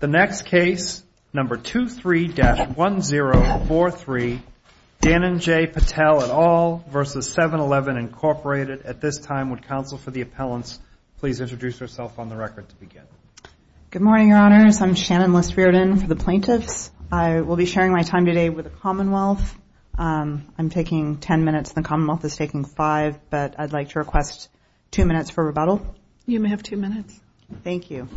The next case, number 23-1043, Dan and Jay Patel et al. v. 7-Eleven, Incorporated. At this time, would counsel for the appellants please introduce yourself on the record to begin? Good morning, Your Honors. I'm Shannon Liss-Riordan for the plaintiffs. I will be sharing my time today with the Commonwealth. I'm taking ten minutes and the Commonwealth is taking five, but I'd like to request two minutes for rebuttal. You may have two minutes. Thank you.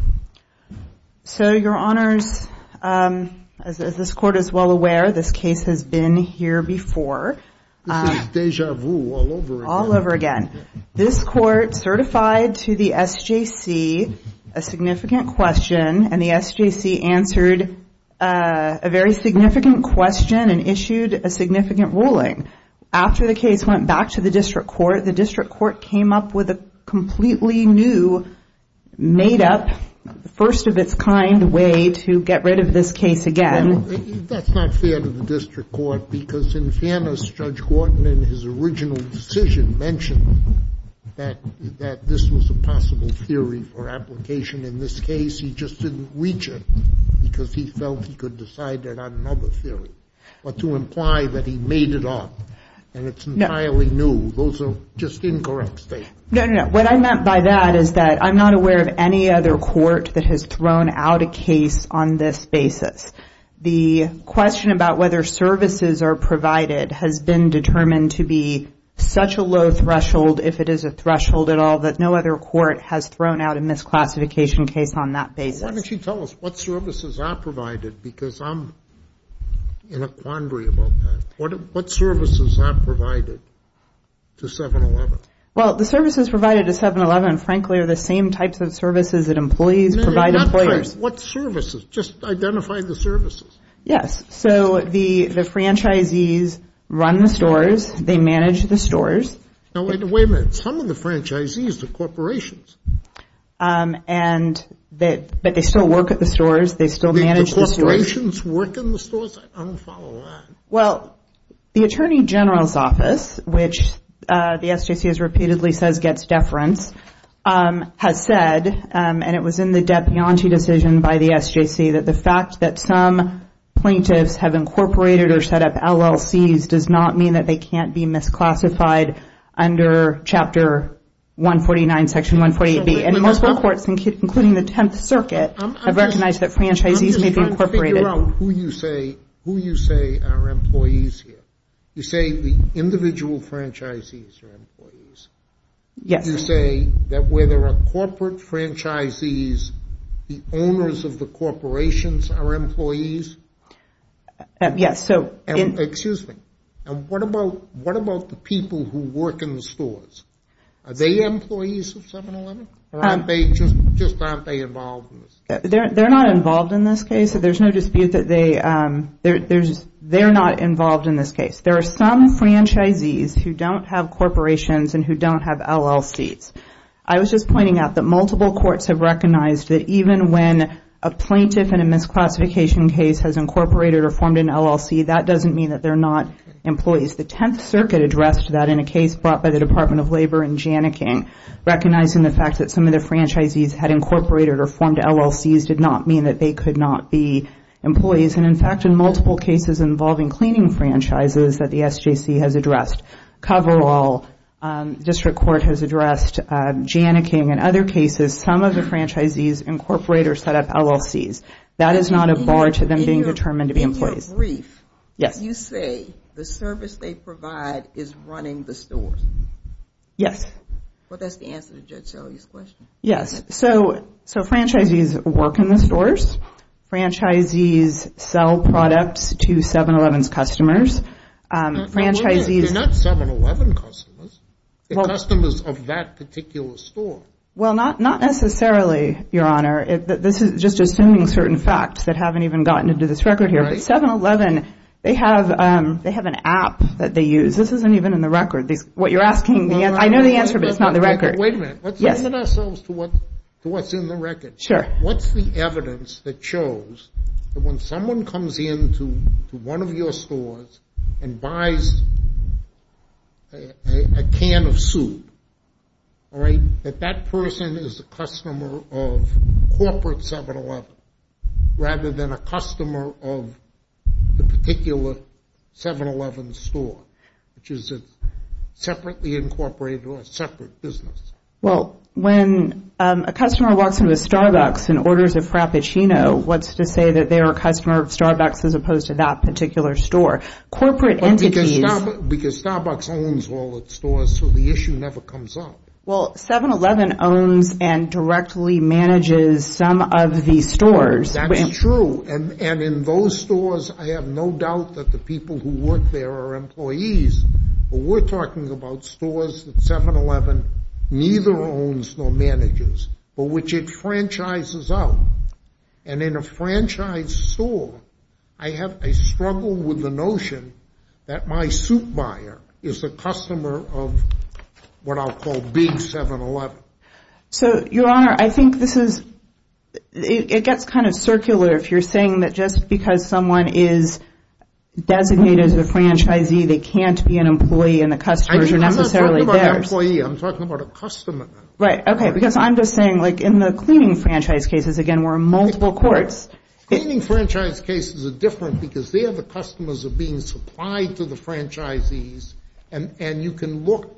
So, Your Honors, as this Court is well aware, this case has been here before. This is déjà vu all over again. All over again. This Court certified to the SJC a significant question, and the SJC answered a very significant question and issued a significant ruling. After the case went back to the District Court, the District Court came up with a completely new, made-up, first-of-its-kind way to get rid of this case again. That's not fair to the District Court because in fairness, Judge Horton in his original decision mentioned that this was a possible theory for application. In this case, he just didn't reach it because he felt he could decide that on another theory. But to imply that he made it up and it's entirely new, those are just incorrect statements. No, no, no. What I meant by that is that I'm not aware of any other court that has thrown out a case on this basis. The question about whether services are provided has been determined to be such a low threshold, if it is a threshold at all, that no other court has thrown out a misclassification case on that basis. Why don't you tell us what services are provided because I'm in a quandary about that. What services are provided to 7-Eleven? Well, the services provided to 7-Eleven, frankly, are the same types of services that employees provide employers. What services? Just identify the services. Yes. So the franchisees run the stores. They manage the stores. Now, wait a minute. Some of the franchisees are corporations. But they still work at the stores. They still manage the stores. The corporations work in the stores? I don't follow that. Well, the Attorney General's Office, which the SJC has repeatedly said gets deference, has said, and it was in the Depionte decision by the SJC, that the fact that some plaintiffs have incorporated or set up LLCs does not mean that they can't be misclassified under Chapter 149, Section 148B. And most law courts, including the Tenth Circuit, have recognized that franchisees may be incorporated. Figure out who you say are employees here. You say the individual franchisees are employees. Yes. You say that where there are corporate franchisees, the owners of the corporations are employees? Yes. Excuse me. And what about the people who work in the stores? Are they employees of 7-Eleven? Or just aren't they involved in this case? They're not involved in this case. There's no dispute that they're not involved in this case. There are some franchisees who don't have corporations and who don't have LLCs. I was just pointing out that multiple courts have recognized that even when a plaintiff in a misclassification case has incorporated or formed an LLC, that doesn't mean that they're not employees. The Tenth Circuit addressed that in a case brought by the Department of Labor in Janikin, recognizing the fact that some of the franchisees had incorporated or formed LLCs did not mean that they could not be employees. And, in fact, in multiple cases involving cleaning franchises that the SJC has addressed, Coverall District Court has addressed, Janikin, and other cases, some of the franchisees incorporate or set up LLCs. That is not a bar to them being determined to be employees. In your brief, you say the service they provide is running the stores? Yes. Well, that's the answer to Judge Shelley's question. Yes. So franchisees work in the stores. Franchisees sell products to 7-Eleven's customers. They're not 7-Eleven customers. They're customers of that particular store. Well, not necessarily, Your Honor. This is just assuming certain facts that haven't even gotten into this record here. But 7-Eleven, they have an app that they use. This isn't even in the record. What you're asking, I know the answer, but it's not in the record. Wait a minute. Let's limit ourselves to what's in the record. Sure. What's the evidence that shows that when someone comes into one of your stores and buys a can of soup, that that person is a customer of corporate 7-Eleven rather than a customer of the particular 7-Eleven store, which is a separately incorporated or a separate business? Well, when a customer walks into a Starbucks and orders a Frappuccino, what's to say that they are a customer of Starbucks as opposed to that particular store? Corporate entities— Because Starbucks owns all its stores, so the issue never comes up. Well, 7-Eleven owns and directly manages some of the stores. That's true. And in those stores, I have no doubt that the people who work there are employees. But we're talking about stores that 7-Eleven neither owns nor manages, but which it franchises out. And in a franchise store, I have a struggle with the notion that my soup buyer is a customer of what I'll call Big 7-Eleven. So, Your Honor, I think this is—it gets kind of circular if you're saying that just because someone is designated as a franchisee, they can't be an employee and the customers are necessarily theirs. I'm not talking about an employee. I'm talking about a customer. Right. Okay. Because I'm just saying, like, in the cleaning franchise cases, again, we're in multiple courts. Cleaning franchise cases are different because they are the customers that are being supplied to the franchisees, and you can look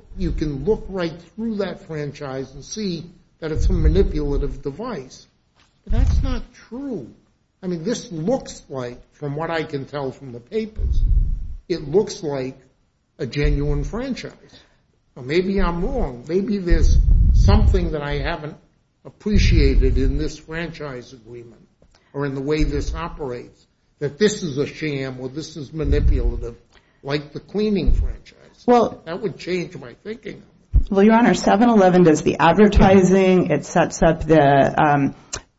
right through that franchise and see that it's a manipulative device. But that's not true. I mean, this looks like, from what I can tell from the papers, it looks like a genuine franchise. Now, maybe I'm wrong. Maybe there's something that I haven't appreciated in this franchise agreement or in the way this operates, that this is a sham or this is manipulative, like the cleaning franchise. That would change my thinking. Well, Your Honor, 7-Eleven does the advertising. It sets up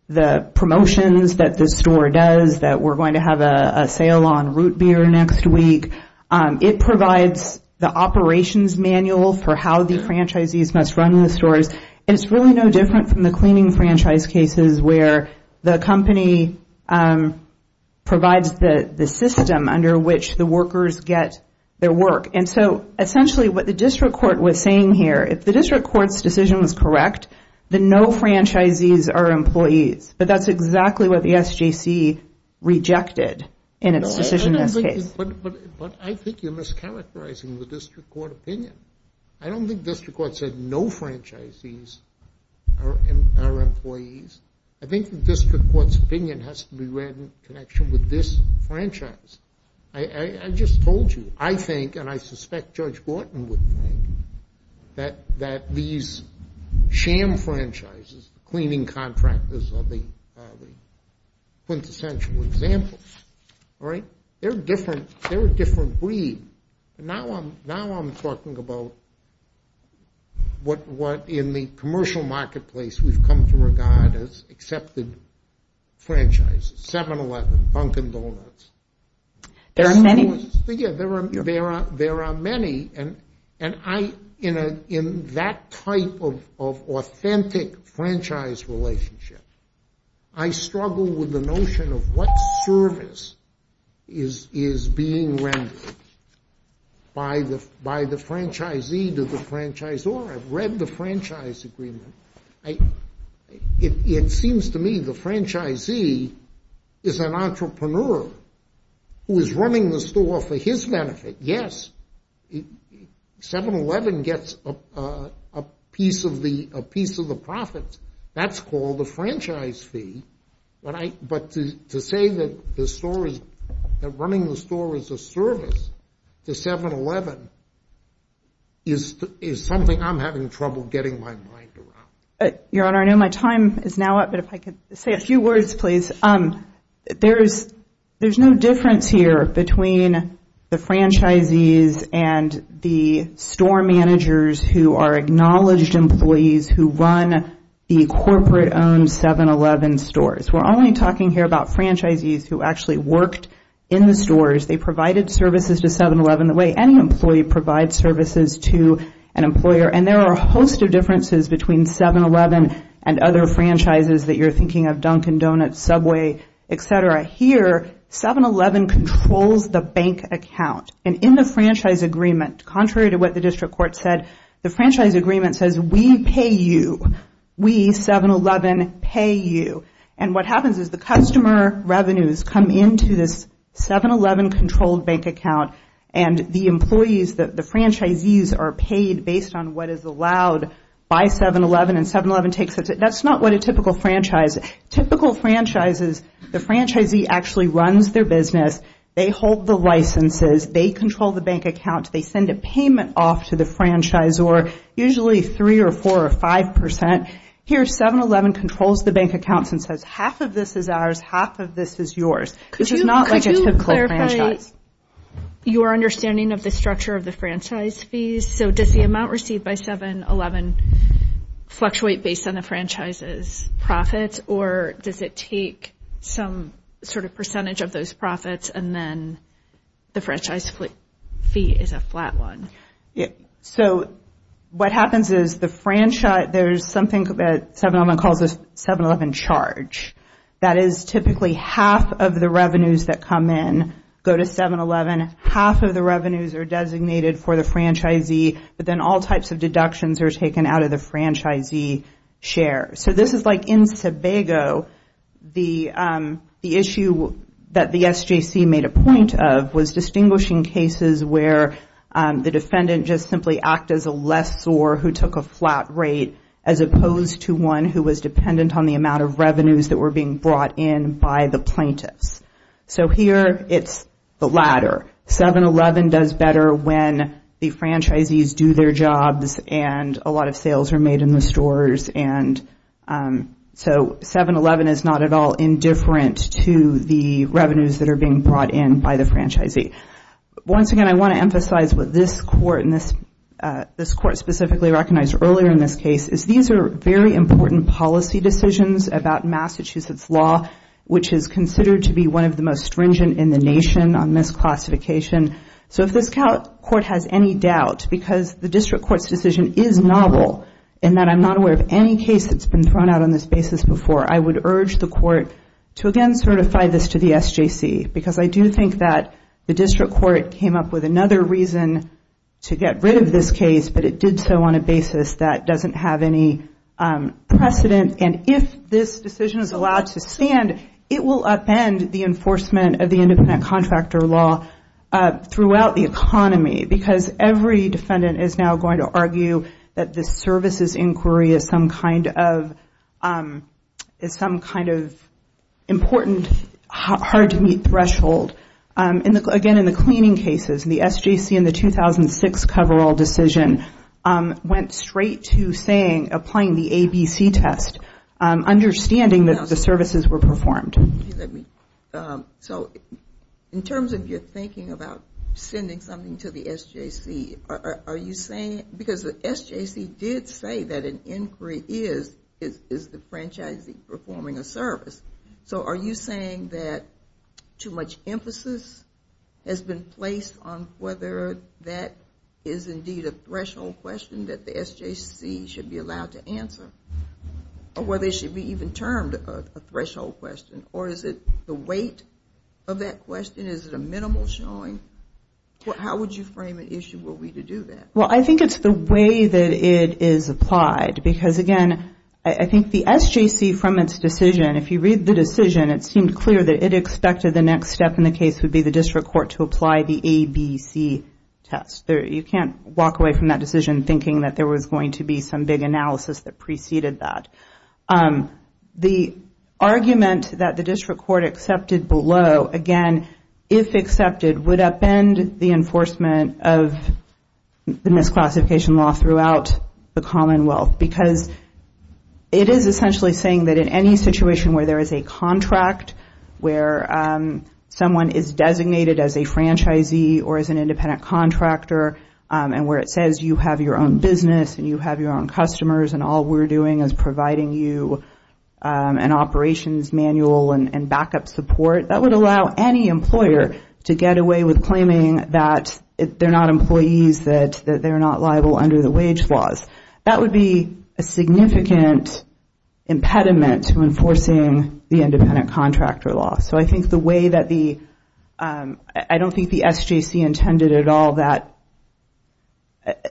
the promotions that the store does, that we're going to have a sale on root beer next week. It provides the operations manual for how the franchisees must run the stores, and it's really no different from the cleaning franchise cases where the company provides the system under which the workers get their work. And so essentially what the district court was saying here, if the district court's decision was correct, then no franchisees are employees. But that's exactly what the SJC rejected in its decision in this case. But I think you're mischaracterizing the district court opinion. I don't think the district court said no franchisees are employees. I think the district court's opinion has to be read in connection with this franchise. I just told you, I think, and I suspect Judge Borton would think, that these sham franchises, cleaning contractors are the quintessential example. They're a different breed. Now I'm talking about what, in the commercial marketplace, we've come to regard as accepted franchises, 7-Eleven, Dunkin' Donuts. There are many. Yeah, there are many. And I, in that type of authentic franchise relationship, I struggle with the notion of what service is being rendered by the franchisee to the franchisor. I've read the franchise agreement. It seems to me the franchisee is an entrepreneur who is running the store for his benefit. Yes, 7-Eleven gets a piece of the profits. That's called a franchise fee. But to say that running the store is a service to 7-Eleven is something I'm having trouble getting my mind around. Your Honor, I know my time is now up, but if I could say a few words, please. There's no difference here between the franchisees and the store managers who are acknowledged employees who run the corporate-owned 7-Eleven stores. We're only talking here about franchisees who actually worked in the stores. They provided services to 7-Eleven the way any employee provides services to an employer. And there are a host of differences between 7-Eleven and other franchises that you're thinking of, Dunkin' Donuts, Subway, et cetera. Here, 7-Eleven controls the bank account. And in the franchise agreement, contrary to what the district court said, the franchise agreement says, we pay you. We, 7-Eleven, pay you. And what happens is the customer revenues come into this 7-Eleven-controlled bank account, and the employees, the franchisees, are paid based on what is allowed by 7-Eleven, and 7-Eleven takes it. That's not what a typical franchise. Typical franchises, the franchisee actually runs their business. They hold the licenses. They control the bank account. They send a payment off to the franchisor, usually 3 or 4 or 5 percent. Here, 7-Eleven controls the bank accounts and says, half of this is ours, half of this is yours. This is not like a typical franchise. Could you clarify your understanding of the structure of the franchise fees? So does the amount received by 7-Eleven fluctuate based on the franchise's profits, or does it take some sort of percentage of those profits and then the franchise fee is a flat one? So what happens is the franchise, there's something that 7-Eleven calls a 7-Eleven charge. That is typically half of the revenues that come in go to 7-Eleven. Half of the revenues are designated for the franchisee, but then all types of deductions are taken out of the franchisee share. So this is like in Sebago, the issue that the SJC made a point of was distinguishing cases where the defendant just simply acted as a lessor who took a flat rate as opposed to one who was dependent on the amount of revenues that were being brought in by the plaintiffs. So here it's the latter. 7-Eleven does better when the franchisees do their jobs and a lot of sales are made in the stores. So 7-Eleven is not at all indifferent to the revenues that are being brought in by the franchisee. Once again, I want to emphasize what this court specifically recognized earlier in this case is these are very important policy decisions about Massachusetts law, which is considered to be one of the most stringent in the nation on misclassification. So if this court has any doubt because the district court's decision is novel and that I'm not aware of any case that's been thrown out on this basis before, I would urge the court to again certify this to the SJC because I do think that the district court came up with another reason to get rid of this case, but it did so on a basis that doesn't have any precedent. And if this decision is allowed to stand, it will upend the enforcement of the independent contractor law throughout the economy because every defendant is now going to argue that the services inquiry is some kind of important, hard-to-meet threshold. Again, in the cleaning cases, the SJC in the 2006 coverall decision went straight to saying, applying the ABC test, understanding that the services were performed. So in terms of your thinking about sending something to the SJC, are you saying because the SJC did say that an inquiry is the franchisee performing a service, so are you saying that too much emphasis has been placed on whether that is indeed a threshold question that the SJC should be allowed to answer or whether it should be even termed a threshold question? Or is it the weight of that question? Is it a minimal showing? How would you frame an issue were we to do that? Well, I think it's the way that it is applied because, again, I think the SJC from its decision, if you read the decision, it seemed clear that it expected the next step in the case would be the district court to apply the ABC test. You can't walk away from that decision thinking that there was going to be some big analysis that preceded that. The argument that the district court accepted below, again, if accepted, would upend the enforcement of the misclassification law throughout the Commonwealth because it is essentially saying that in any situation where there is a contract, where someone is designated as a franchisee or as an independent contractor and where it says you have your own business and you have your own customers and all we're doing is providing you an operations manual and backup support, that would allow any employer to get away with claiming that they're not employees, that they're not liable under the wage laws. That would be a significant impediment to enforcing the independent contractor law. So I think the way that the, I don't think the SJC intended at all that,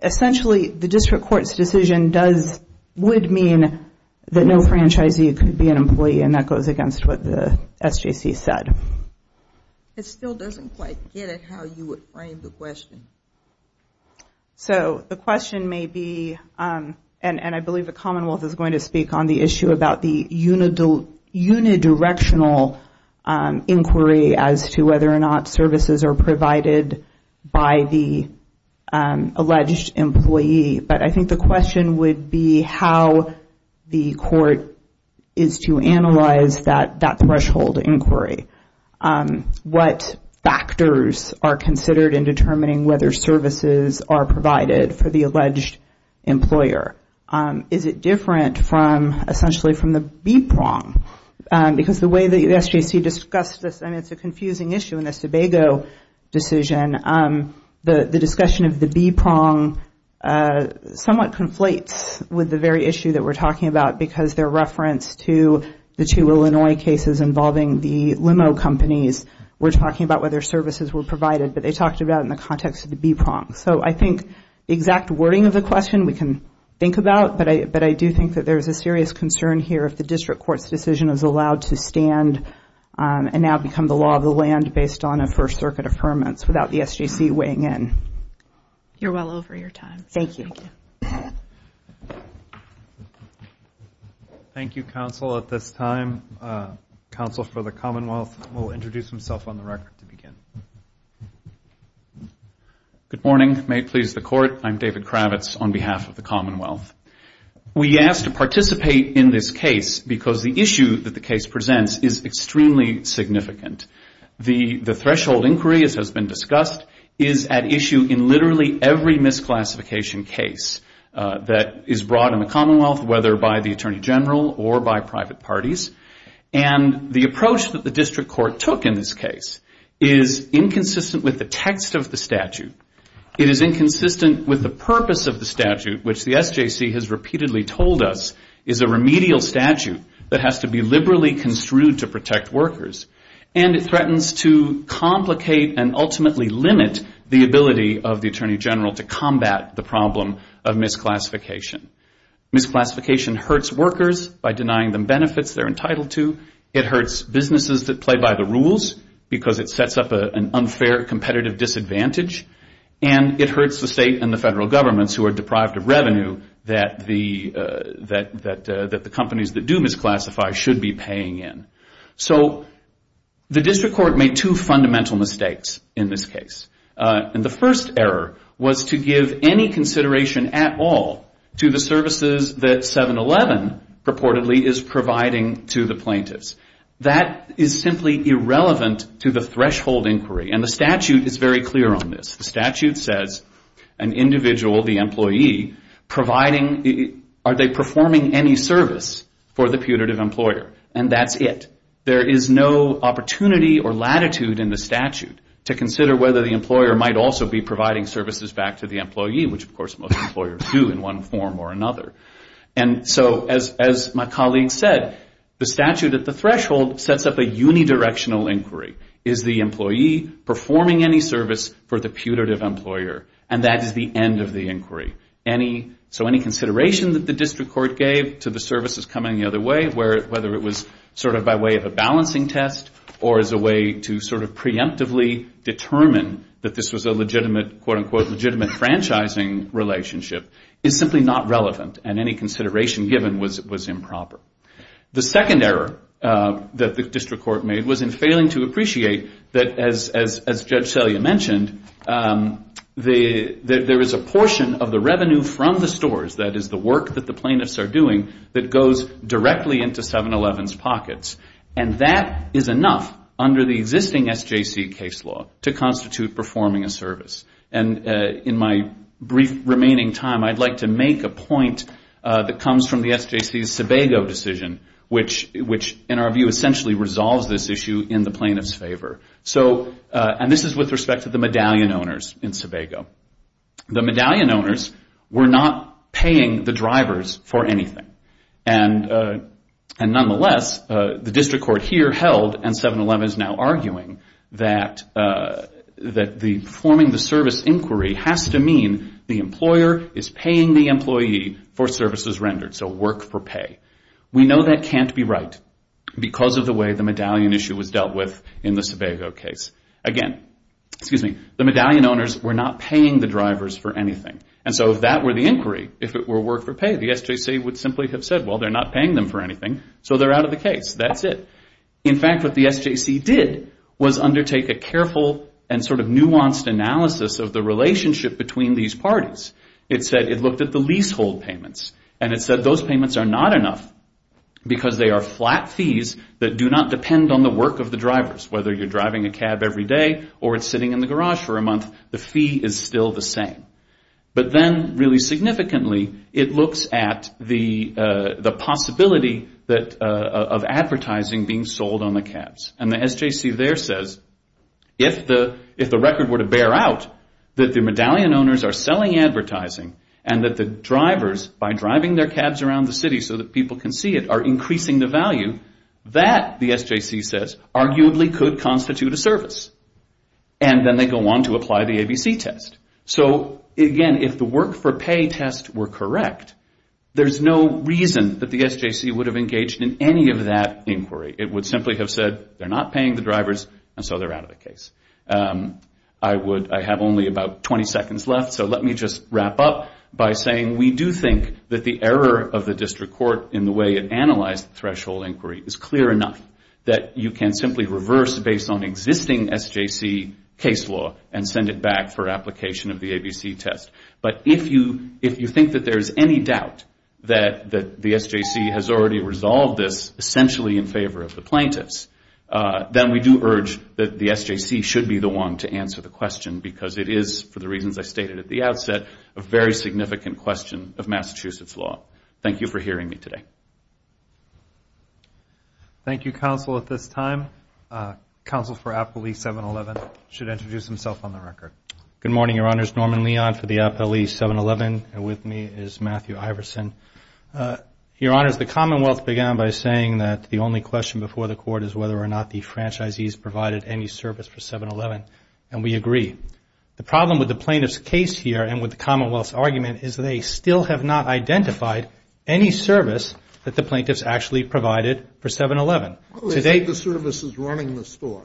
essentially the district court's decision would mean that no franchisee could be an employee and that goes against what the SJC said. It still doesn't quite get it how you would frame the question. So the question may be, and I believe the Commonwealth is going to speak on the issue about the unidirectional inquiry as to whether or not services are provided by the alleged employee, but I think the question would be how the court is to analyze that threshold inquiry. What factors are considered in determining whether services are provided for the alleged employer? Is it different from, essentially from the B-prong? Because the way the SJC discussed this, and it's a confusing issue in the Sebago decision, the discussion of the B-prong somewhat conflates with the very issue that we're talking about because their reference to the two Illinois cases involving the limo companies, we're talking about whether services were provided, but they talked about it in the context of the B-prong. So I think the exact wording of the question we can think about, but I do think that there's a serious concern here if the district court's decision is allowed to stand and now become the law of the land based on a First Circuit affirmance without the SJC weighing in. You're well over your time. Thank you. Thank you, counsel. At this time, counsel for the Commonwealth will introduce himself on the record to begin. Good morning. May it please the court, I'm David Kravitz on behalf of the Commonwealth. We ask to participate in this case because the issue that the case presents is extremely significant. The threshold inquiry, as has been discussed, is at issue in literally every misclassification case that is brought in the Commonwealth, whether by the Attorney General or by private parties. And the approach that the district court took in this case is inconsistent with the text of the statute. It is inconsistent with the purpose of the statute, which the SJC has repeatedly told us is a remedial statute that has to be liberally construed to protect workers. And it threatens to complicate and ultimately limit the ability of the Attorney General to combat the problem of misclassification. Misclassification hurts workers by denying them benefits they're entitled to. It hurts businesses that play by the rules because it sets up an unfair competitive disadvantage. And it hurts the state and the federal governments who are deprived of revenue that the companies that do misclassify should be paying in. So the district court made two fundamental mistakes in this case. And the first error was to give any consideration at all to the services that 711 purportedly is providing to the plaintiffs. That is simply irrelevant to the threshold inquiry. And the statute is very clear on this. The statute says an individual, the employee, are they performing any service for the putative employer? And that's it. There is no opportunity or latitude in the statute to consider whether the employer might also be providing services back to the employee, which of course most employers do in one form or another. And so as my colleague said, the statute at the threshold sets up a unidirectional inquiry. Is the employee performing any service for the putative employer? And that is the end of the inquiry. So any consideration that the district court gave to the services coming the other way, whether it was sort of by way of a balancing test or as a way to sort of preemptively determine that this was a legitimate, quote, unquote, legitimate franchising relationship, is simply not relevant. And any consideration given was improper. The second error that the district court made was in failing to appreciate that, as Judge Selya mentioned, there is a portion of the revenue from the stores, that is the work that the plaintiffs are doing, that goes directly into 7-Eleven's pockets. And that is enough under the existing SJC case law to constitute performing a service. And in my brief remaining time, I'd like to make a point that comes from the SJC's Sebago decision, which in our view essentially resolves this issue in the plaintiff's favor. And this is with respect to the medallion owners in Sebago. The medallion owners were not paying the drivers for anything. And nonetheless, the district court here held, and 7-Eleven is now arguing, that performing the service inquiry has to mean the employer is paying the employee for services rendered, so work for pay. We know that can't be right because of the way the medallion issue was dealt with in the Sebago case. Again, excuse me, the medallion owners were not paying the drivers for anything. And so if that were the inquiry, if it were work for pay, the SJC would simply have said, well, they're not paying them for anything, so they're out of the case. That's it. In fact, what the SJC did was undertake a careful and sort of nuanced analysis of the relationship between these parties. It said it looked at the leasehold payments, and it said those payments are not enough because they are flat fees that do not depend on the work of the drivers. Whether you're driving a cab every day or it's sitting in the garage for a month, the fee is still the same. But then really significantly, it looks at the possibility of advertising being sold on the cabs. And the SJC there says if the record were to bear out that the medallion owners are selling advertising and that the drivers, by driving their cabs around the city so that people can see it, are increasing the value, that, the SJC says, arguably could constitute a service. And then they go on to apply the ABC test. So, again, if the work for pay test were correct, there's no reason that the SJC would have engaged in any of that inquiry. It would simply have said they're not paying the drivers, and so they're out of the case. I have only about 20 seconds left, so let me just wrap up by saying we do think that the error of the district court in the way it analyzed the threshold inquiry is clear enough that you can simply reverse based on existing SJC case law and send it back for application of the ABC test. But if you think that there's any doubt that the SJC has already resolved this essentially in favor of the plaintiffs, then we do urge that the SJC should be the one to answer the question because it is, for the reasons I stated at the outset, a very significant question of Massachusetts law. Thank you for hearing me today. Thank you, counsel, at this time. Counsel for Appley 711 should introduce himself on the record. Good morning, Your Honors. Norman Leon for the Appley 711, and with me is Matthew Iverson. Your Honors, the Commonwealth began by saying that the only question before the court is whether or not the franchisees provided any service for 711, and we agree. The problem with the plaintiff's case here and with the Commonwealth's argument is they still have not identified any service that the plaintiffs actually provided for 711. What if the service is running the store?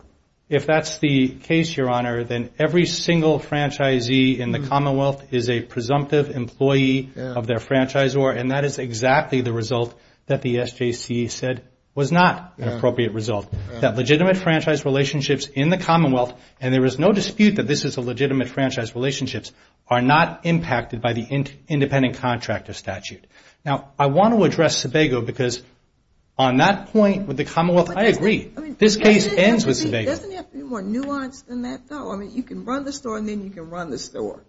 If that's the case, Your Honor, then every single franchisee in the Commonwealth is a presumptive employee of their franchisor, and that is exactly the result that the SJC said was not an appropriate result, that legitimate franchise relationships in the Commonwealth, and there is no dispute that this is a legitimate franchise relationship, are not impacted by the independent contractor statute. Now, I want to address Sebago because on that point with the Commonwealth, I agree. This case ends with Sebago. Doesn't it have to be more nuanced than that, though? I mean, you can run the store, and then you can run the store.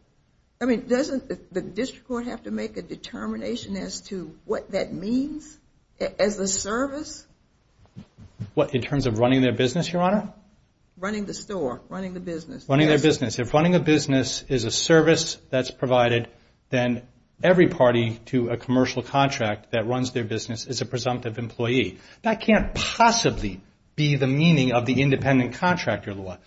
I mean, doesn't the district court have to make a determination as to what that means as a service? What, in terms of running their business, Your Honor? Running the store, running the business. Running their business. If running a business is a service that's provided, then every party to a commercial contract that runs their business is a presumptive employee. That can't possibly be the meaning of the independent contractor law.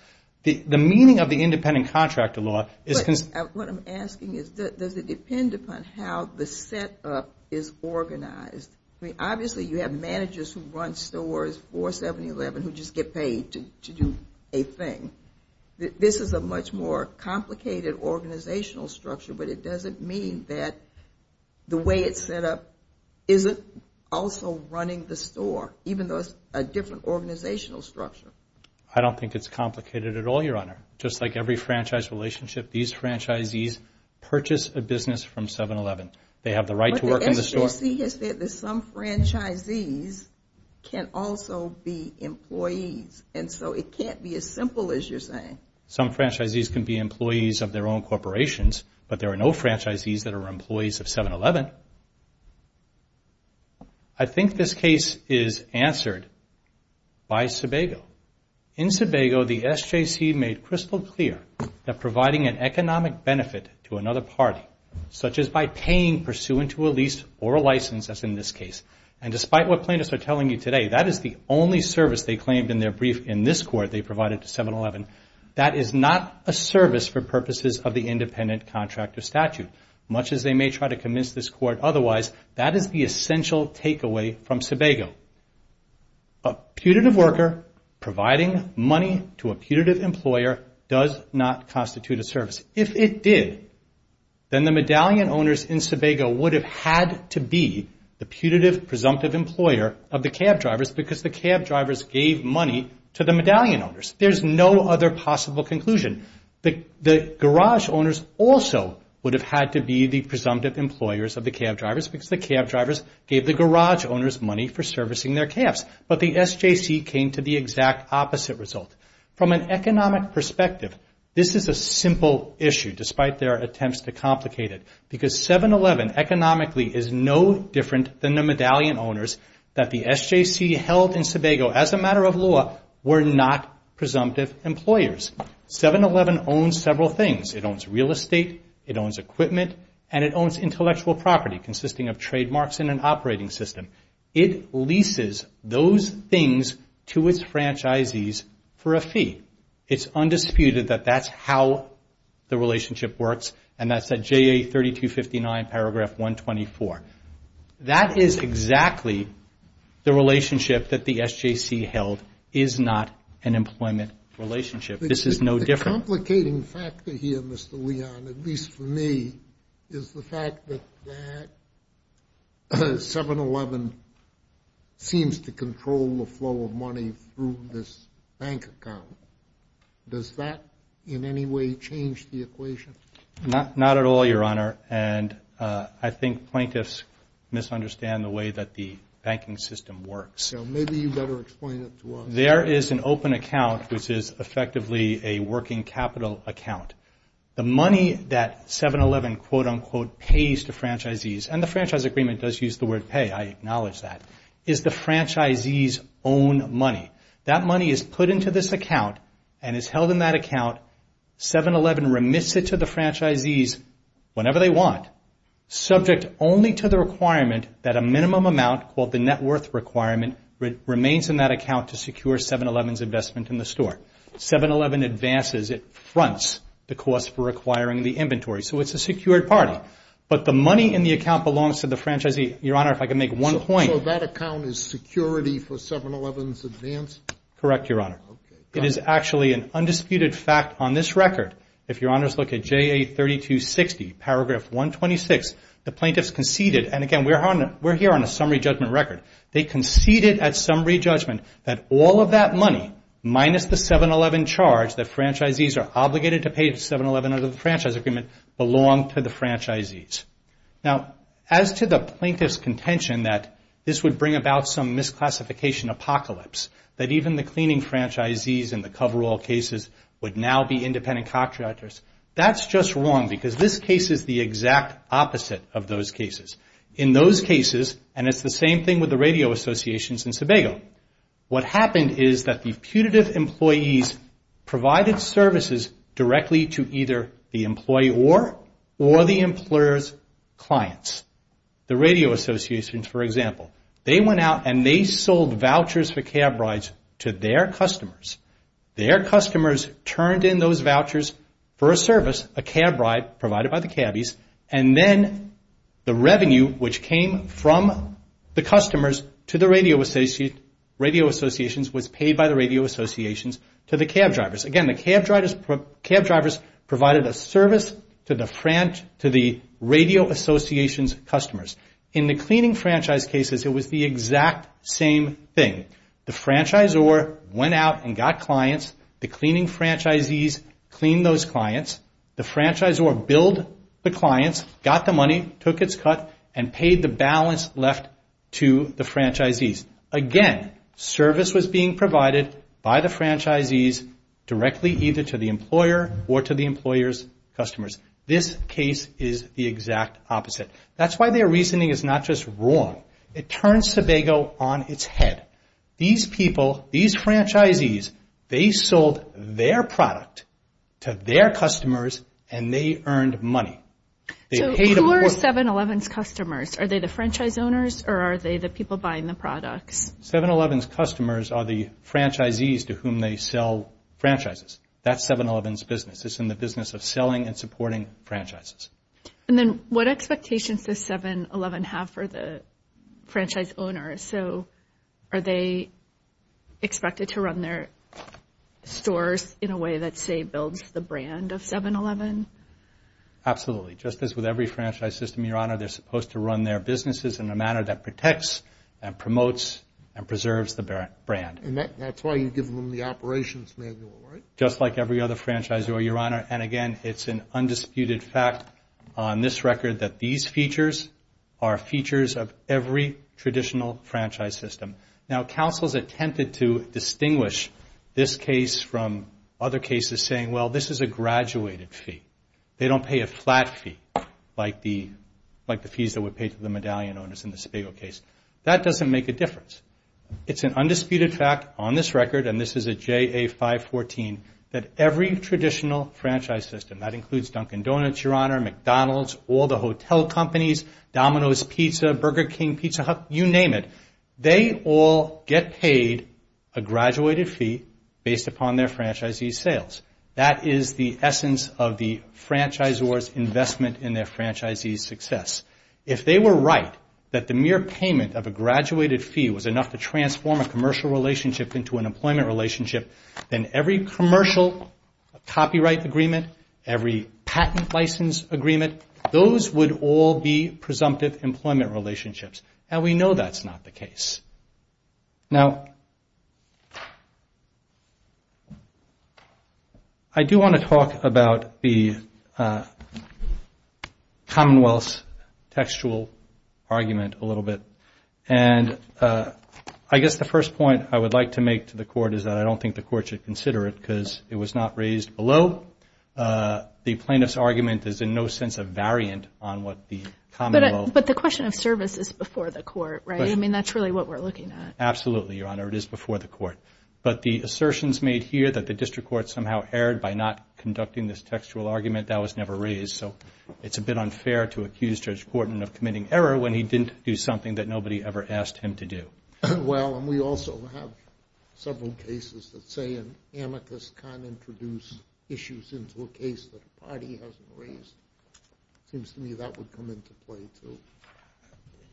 The meaning of the independent contractor law is because of what I'm asking is, does it depend upon how the setup is organized? I mean, obviously you have managers who run stores, 4711, who just get paid to do a thing. This is a much more complicated organizational structure, but it doesn't mean that the way it's set up isn't also running the store, even though it's a different organizational structure. I don't think it's complicated at all, Your Honor. Just like every franchise relationship, these franchisees purchase a business from 7-Eleven. They have the right to work in the store. But the SEC has said that some franchisees can also be employees, and so it can't be as simple as you're saying. Some franchisees can be employees of their own corporations, but there are no franchisees that are employees of 7-Eleven. I think this case is answered by Sebago. In Sebago, the SJC made crystal clear that providing an economic benefit to another party, such as by paying pursuant to a lease or a license, as in this case, and despite what plaintiffs are telling you today, that is the only service they claimed in their brief in this court they provided to 7-Eleven. That is not a service for purposes of the independent contract of statute. Much as they may try to convince this court otherwise, that is the essential takeaway from Sebago. A putative worker providing money to a putative employer does not constitute a service. If it did, then the medallion owners in Sebago would have had to be the putative, presumptive employer of the cab drivers because the cab drivers gave money to the medallion owners. There's no other possible conclusion. The garage owners also would have had to be the presumptive employers of the cab drivers because the cab drivers gave the garage owners money for servicing their cabs, but the SJC came to the exact opposite result. From an economic perspective, this is a simple issue despite their attempts to complicate it because 7-Eleven economically is no different than the medallion owners that the SJC held in Sebago as a matter of law were not presumptive employers. 7-Eleven owns several things. It owns real estate, it owns equipment, and it owns intellectual property consisting of trademarks and an operating system. It leases those things to its franchisees for a fee. It's undisputed that that's how the relationship works, and that's at JA 3259, paragraph 124. That is exactly the relationship that the SJC held is not an employment relationship. This is no different. The complicating factor here, Mr. Leon, at least for me, is the fact that 7-Eleven seems to control the flow of money through this bank account. Does that in any way change the equation? Not at all, Your Honor, and I think plaintiffs misunderstand the way that the banking system works. Maybe you'd better explain it to us. There is an open account, which is effectively a working capital account. The money that 7-Eleven quote-unquote pays to franchisees, and the franchise agreement does use the word pay, I acknowledge that, is the franchisees' own money. That money is put into this account and is held in that account. 7-Eleven remits it to the franchisees whenever they want, subject only to the requirement that a minimum amount called the net worth requirement remains in that account to secure 7-Eleven's investment in the store. 7-Eleven advances, it fronts the cost for acquiring the inventory, so it's a secured party. But the money in the account belongs to the franchisee. Your Honor, if I could make one point. So that account is security for 7-Eleven's advance? Correct, Your Honor. It is actually an undisputed fact on this record. If Your Honors look at JA 3260, paragraph 126, the plaintiffs conceded, and again, we're here on a summary judgment record. They conceded at summary judgment that all of that money minus the 7-Eleven charge that franchisees are obligated to pay to 7-Eleven under the franchise agreement belonged to the franchisees. Now, as to the plaintiff's contention that this would bring about some misclassification apocalypse, that even the cleaning franchisees in the coverall cases would now be independent contractors, that's just wrong because this case is the exact opposite of those cases. In those cases, and it's the same thing with the radio associations in Sebago, what happened is that the putative employees provided services directly to either the employee or, or the employer's clients. The radio associations, for example, they went out and they sold vouchers for cab rides to their customers. Their customers turned in those vouchers for a service, a cab ride provided by the cabbies, and then the revenue which came from the customers to the radio associations was paid by the radio associations to the cab drivers. Again, the cab drivers provided a service to the radio associations' customers. In the cleaning franchise cases, it was the exact same thing. The franchisor went out and got clients. The cleaning franchisees cleaned those clients. The franchisor billed the clients, got the money, took its cut, and paid the balance left to the franchisees. Again, service was being provided by the franchisees directly either to the employer or to the employer's customers. This case is the exact opposite. That's why their reasoning is not just wrong. It turns Sebago on its head. These people, these franchisees, they sold their product to their customers and they earned money. So who are 7-Eleven's customers? Are they the franchise owners or are they the people buying the products? 7-Eleven's customers are the franchisees to whom they sell franchises. That's 7-Eleven's business. It's in the business of selling and supporting franchises. And then what expectations does 7-Eleven have for the franchise owners? So are they expected to run their stores in a way that, say, builds the brand of 7-Eleven? Absolutely. Just as with every franchise system, Your Honor, they're supposed to run their businesses in a manner that protects and promotes and preserves the brand. And that's why you give them the operations manual, right? Just like every other franchisor, Your Honor. And, again, it's an undisputed fact on this record that these features are features of every traditional franchise system. Now, counsels attempted to distinguish this case from other cases saying, well, this is a graduated fee. They don't pay a flat fee like the fees that were paid to the medallion owners in the Sebago case. That doesn't make a difference. It's an undisputed fact on this record, and this is a JA 514, that every traditional franchise system, that includes Dunkin' Donuts, Your Honor, McDonald's, all the hotel companies, Domino's Pizza, Burger King, Pizza Hut, you name it, they all get paid a graduated fee based upon their franchisee sales. That is the essence of the franchisor's investment in their franchisee's success. If they were right that the mere payment of a graduated fee was enough to transform a commercial relationship into an employment relationship, then every commercial copyright agreement, every patent license agreement, those would all be presumptive employment relationships. And we know that's not the case. Now, I do want to talk about the commonwealth's textual argument a little bit, and I guess the first point I would like to make to the court is that I don't think the court should consider it because it was not raised below. The plaintiff's argument is in no sense a variant on what the commonwealth. But the question of service is before the court, right? I mean, that's really what we're looking at. Absolutely, Your Honor. It is before the court. But the assertions made here that the district court somehow erred by not conducting this textual argument, that was never raised. So it's a bit unfair to accuse Judge Portman of committing error when he didn't do something that nobody ever asked him to do. Well, and we also have several cases that say an amicus can't introduce issues into a case that a party hasn't raised. It seems to me that would come into play, too.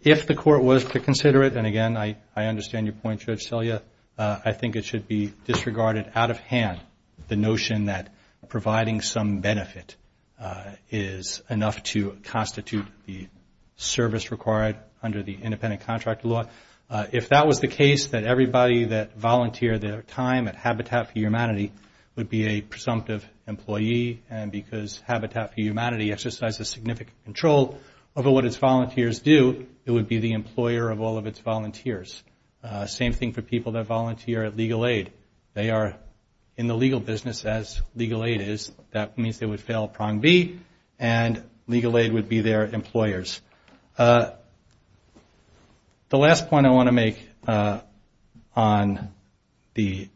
If the court was to consider it, and, again, I understand your point, Judge Selya, I think it should be disregarded out of hand, the notion that providing some benefit is enough to constitute the service required under the independent contract law. If that was the case, then everybody that volunteered their time at Habitat for Humanity would be a presumptive employee, and because Habitat for Humanity exercises significant control over what its volunteers do, it would be the employer of all of its volunteers. Same thing for people that volunteer at Legal Aid. They are in the legal business as Legal Aid is. That means they would fail prong B, and Legal Aid would be their employers. The last point I want to make on the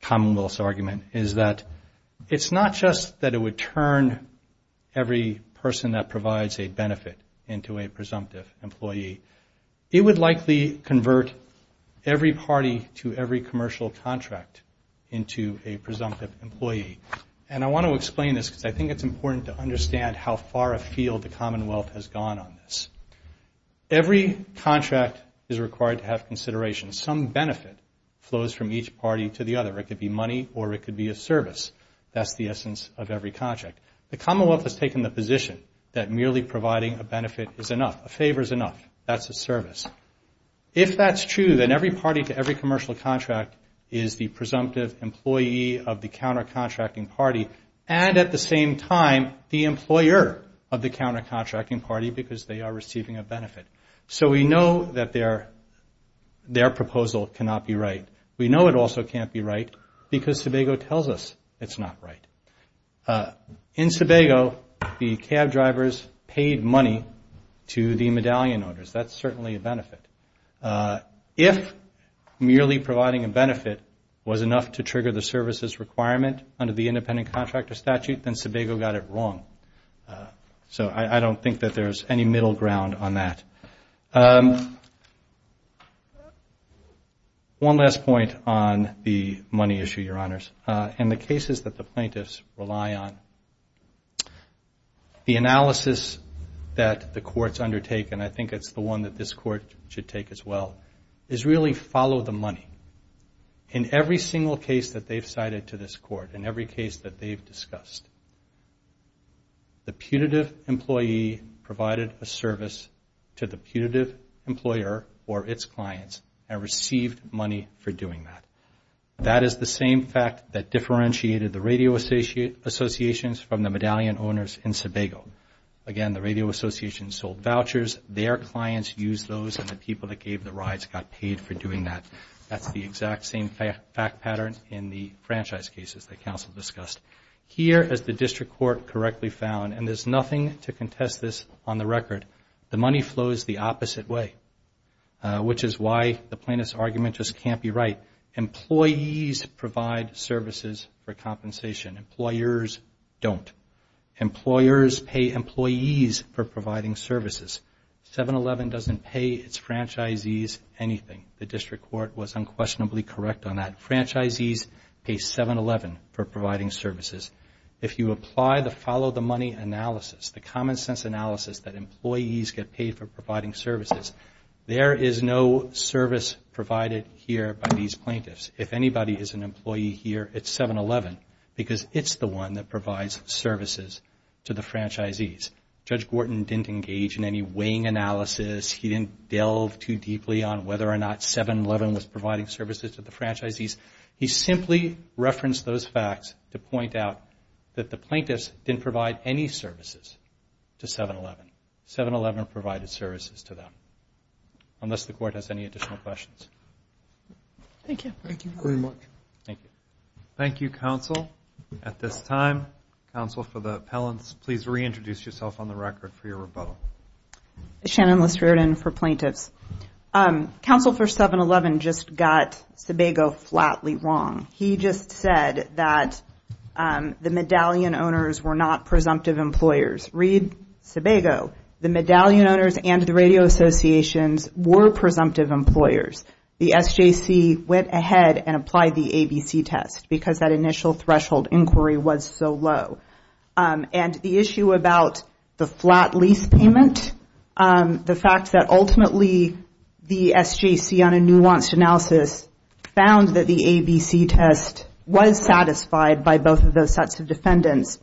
Commonwealth's argument is that it's not just that it would turn every person that provides a benefit into a presumptive employee. It would likely convert every party to every commercial contract into a presumptive employee, and I want to explain this because I think it's important to understand how far afield the Commonwealth has gone on this. Every contract is required to have consideration. Some benefit flows from each party to the other. It could be money or it could be a service. That's the essence of every contract. The Commonwealth has taken the position that merely providing a benefit is enough, a favor is enough. That's a service. If that's true, then every party to every commercial contract is the presumptive employee of the counter-contracting party and at the same time the employer of the counter-contracting party because they are receiving a benefit. So we know that their proposal cannot be right. We know it also can't be right because Sebago tells us it's not right. In Sebago, the cab drivers paid money to the medallion owners. That's certainly a benefit. If merely providing a benefit was enough to trigger the services requirement under the independent contractor statute, then Sebago got it wrong. So I don't think that there's any middle ground on that. One last point on the money issue, Your Honors, and the cases that the plaintiffs rely on. The analysis that the courts undertake, and I think it's the one that this court should take as well, is really follow the money. In every single case that they've cited to this court, in every case that they've discussed, the putative employee provided a service to the putative employer or its clients and received money for doing that. That is the same fact that differentiated the radio associations from the medallion owners in Sebago. Again, the radio associations sold vouchers, their clients used those, and the people that gave the rides got paid for doing that. That's the exact same fact pattern in the franchise cases that counsel discussed. Here, as the district court correctly found, and there's nothing to contest this on the record, the money flows the opposite way, which is why the plaintiff's argument just can't be right. Employees provide services for compensation. Employers don't. Employers pay employees for providing services. 711 doesn't pay its franchisees anything. The district court was unquestionably correct on that. Franchisees pay 711 for providing services. If you apply the follow the money analysis, the common sense analysis that employees get paid for providing services, there is no service provided here by these plaintiffs. If anybody is an employee here, it's 711, because it's the one that provides services to the franchisees. Judge Gorton didn't engage in any weighing analysis. He didn't delve too deeply on whether or not 711 was providing services to the franchisees. He simply referenced those facts to point out that the plaintiffs didn't provide any services to 711. 711 provided services to them, unless the court has any additional questions. Thank you. Thank you very much. Thank you. Thank you, counsel. At this time, counsel for the appellants, please reintroduce yourself on the record for your rebuttal. Shannon Lestraden for plaintiffs. Counsel for 711 just got Sebago flatly wrong. He just said that the medallion owners were not presumptive employers. Read Sebago. The medallion owners and the radio associations were presumptive employers. The SJC went ahead and applied the ABC test because that initial threshold inquiry was so low. And the issue about the flat lease payment, the fact that ultimately the SJC on a nuanced analysis found that the ABC test was satisfied by both of those sets of defendants,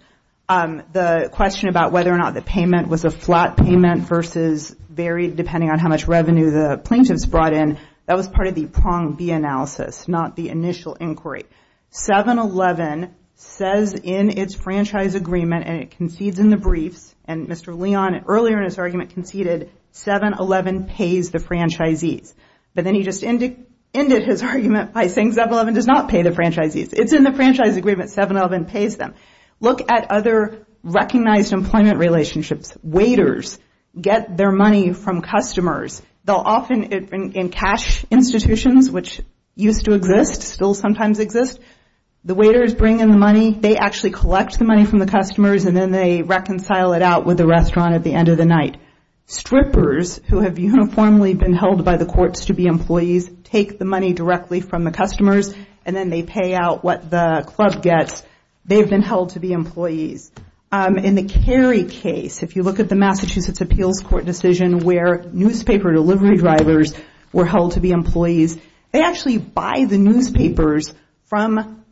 the question about whether or not the payment was a flat payment versus varied depending on how much revenue the plaintiffs brought in, that was part of the prong B analysis, not the initial inquiry. 711 says in its franchise agreement, and it concedes in the briefs, and Mr. Leon earlier in his argument conceded 711 pays the franchisees. But then he just ended his argument by saying 711 does not pay the franchisees. It's in the franchise agreement. 711 pays them. Look at other recognized employment relationships. Waiters get their money from customers. They'll often in cash institutions, which used to exist, still sometimes exist, the waiters bring in the money. They actually collect the money from the customers, and then they reconcile it out with the restaurant at the end of the night. Strippers, who have uniformly been held by the courts to be employees, take the money directly from the customers, and then they pay out what the club gets. They've been held to be employees. In the Cary case, if you look at the Massachusetts Appeals Court decision, where newspaper delivery drivers were held to be employees, they actually buy the newspapers from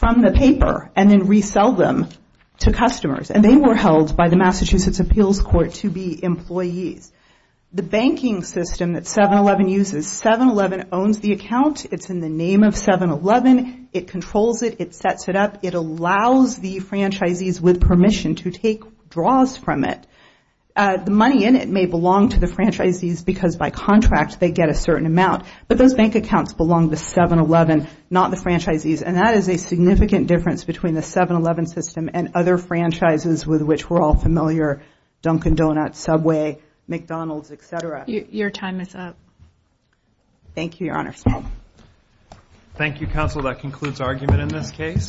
the paper and then resell them to customers, and they were held by the Massachusetts Appeals Court to be employees. The banking system that 711 uses, 711 owns the account. It's in the name of 711. It controls it. It sets it up. It allows the franchisees with permission to take draws from it. The money in it may belong to the franchisees because by contract they get a certain amount, but those bank accounts belong to 711, not the franchisees, and that is a significant difference between the 711 system and other franchises with which we're all familiar, Dunkin' Donuts, Subway, McDonald's, et cetera. Your time is up. Thank you, Your Honor. Thank you, counsel. That concludes argument in this case.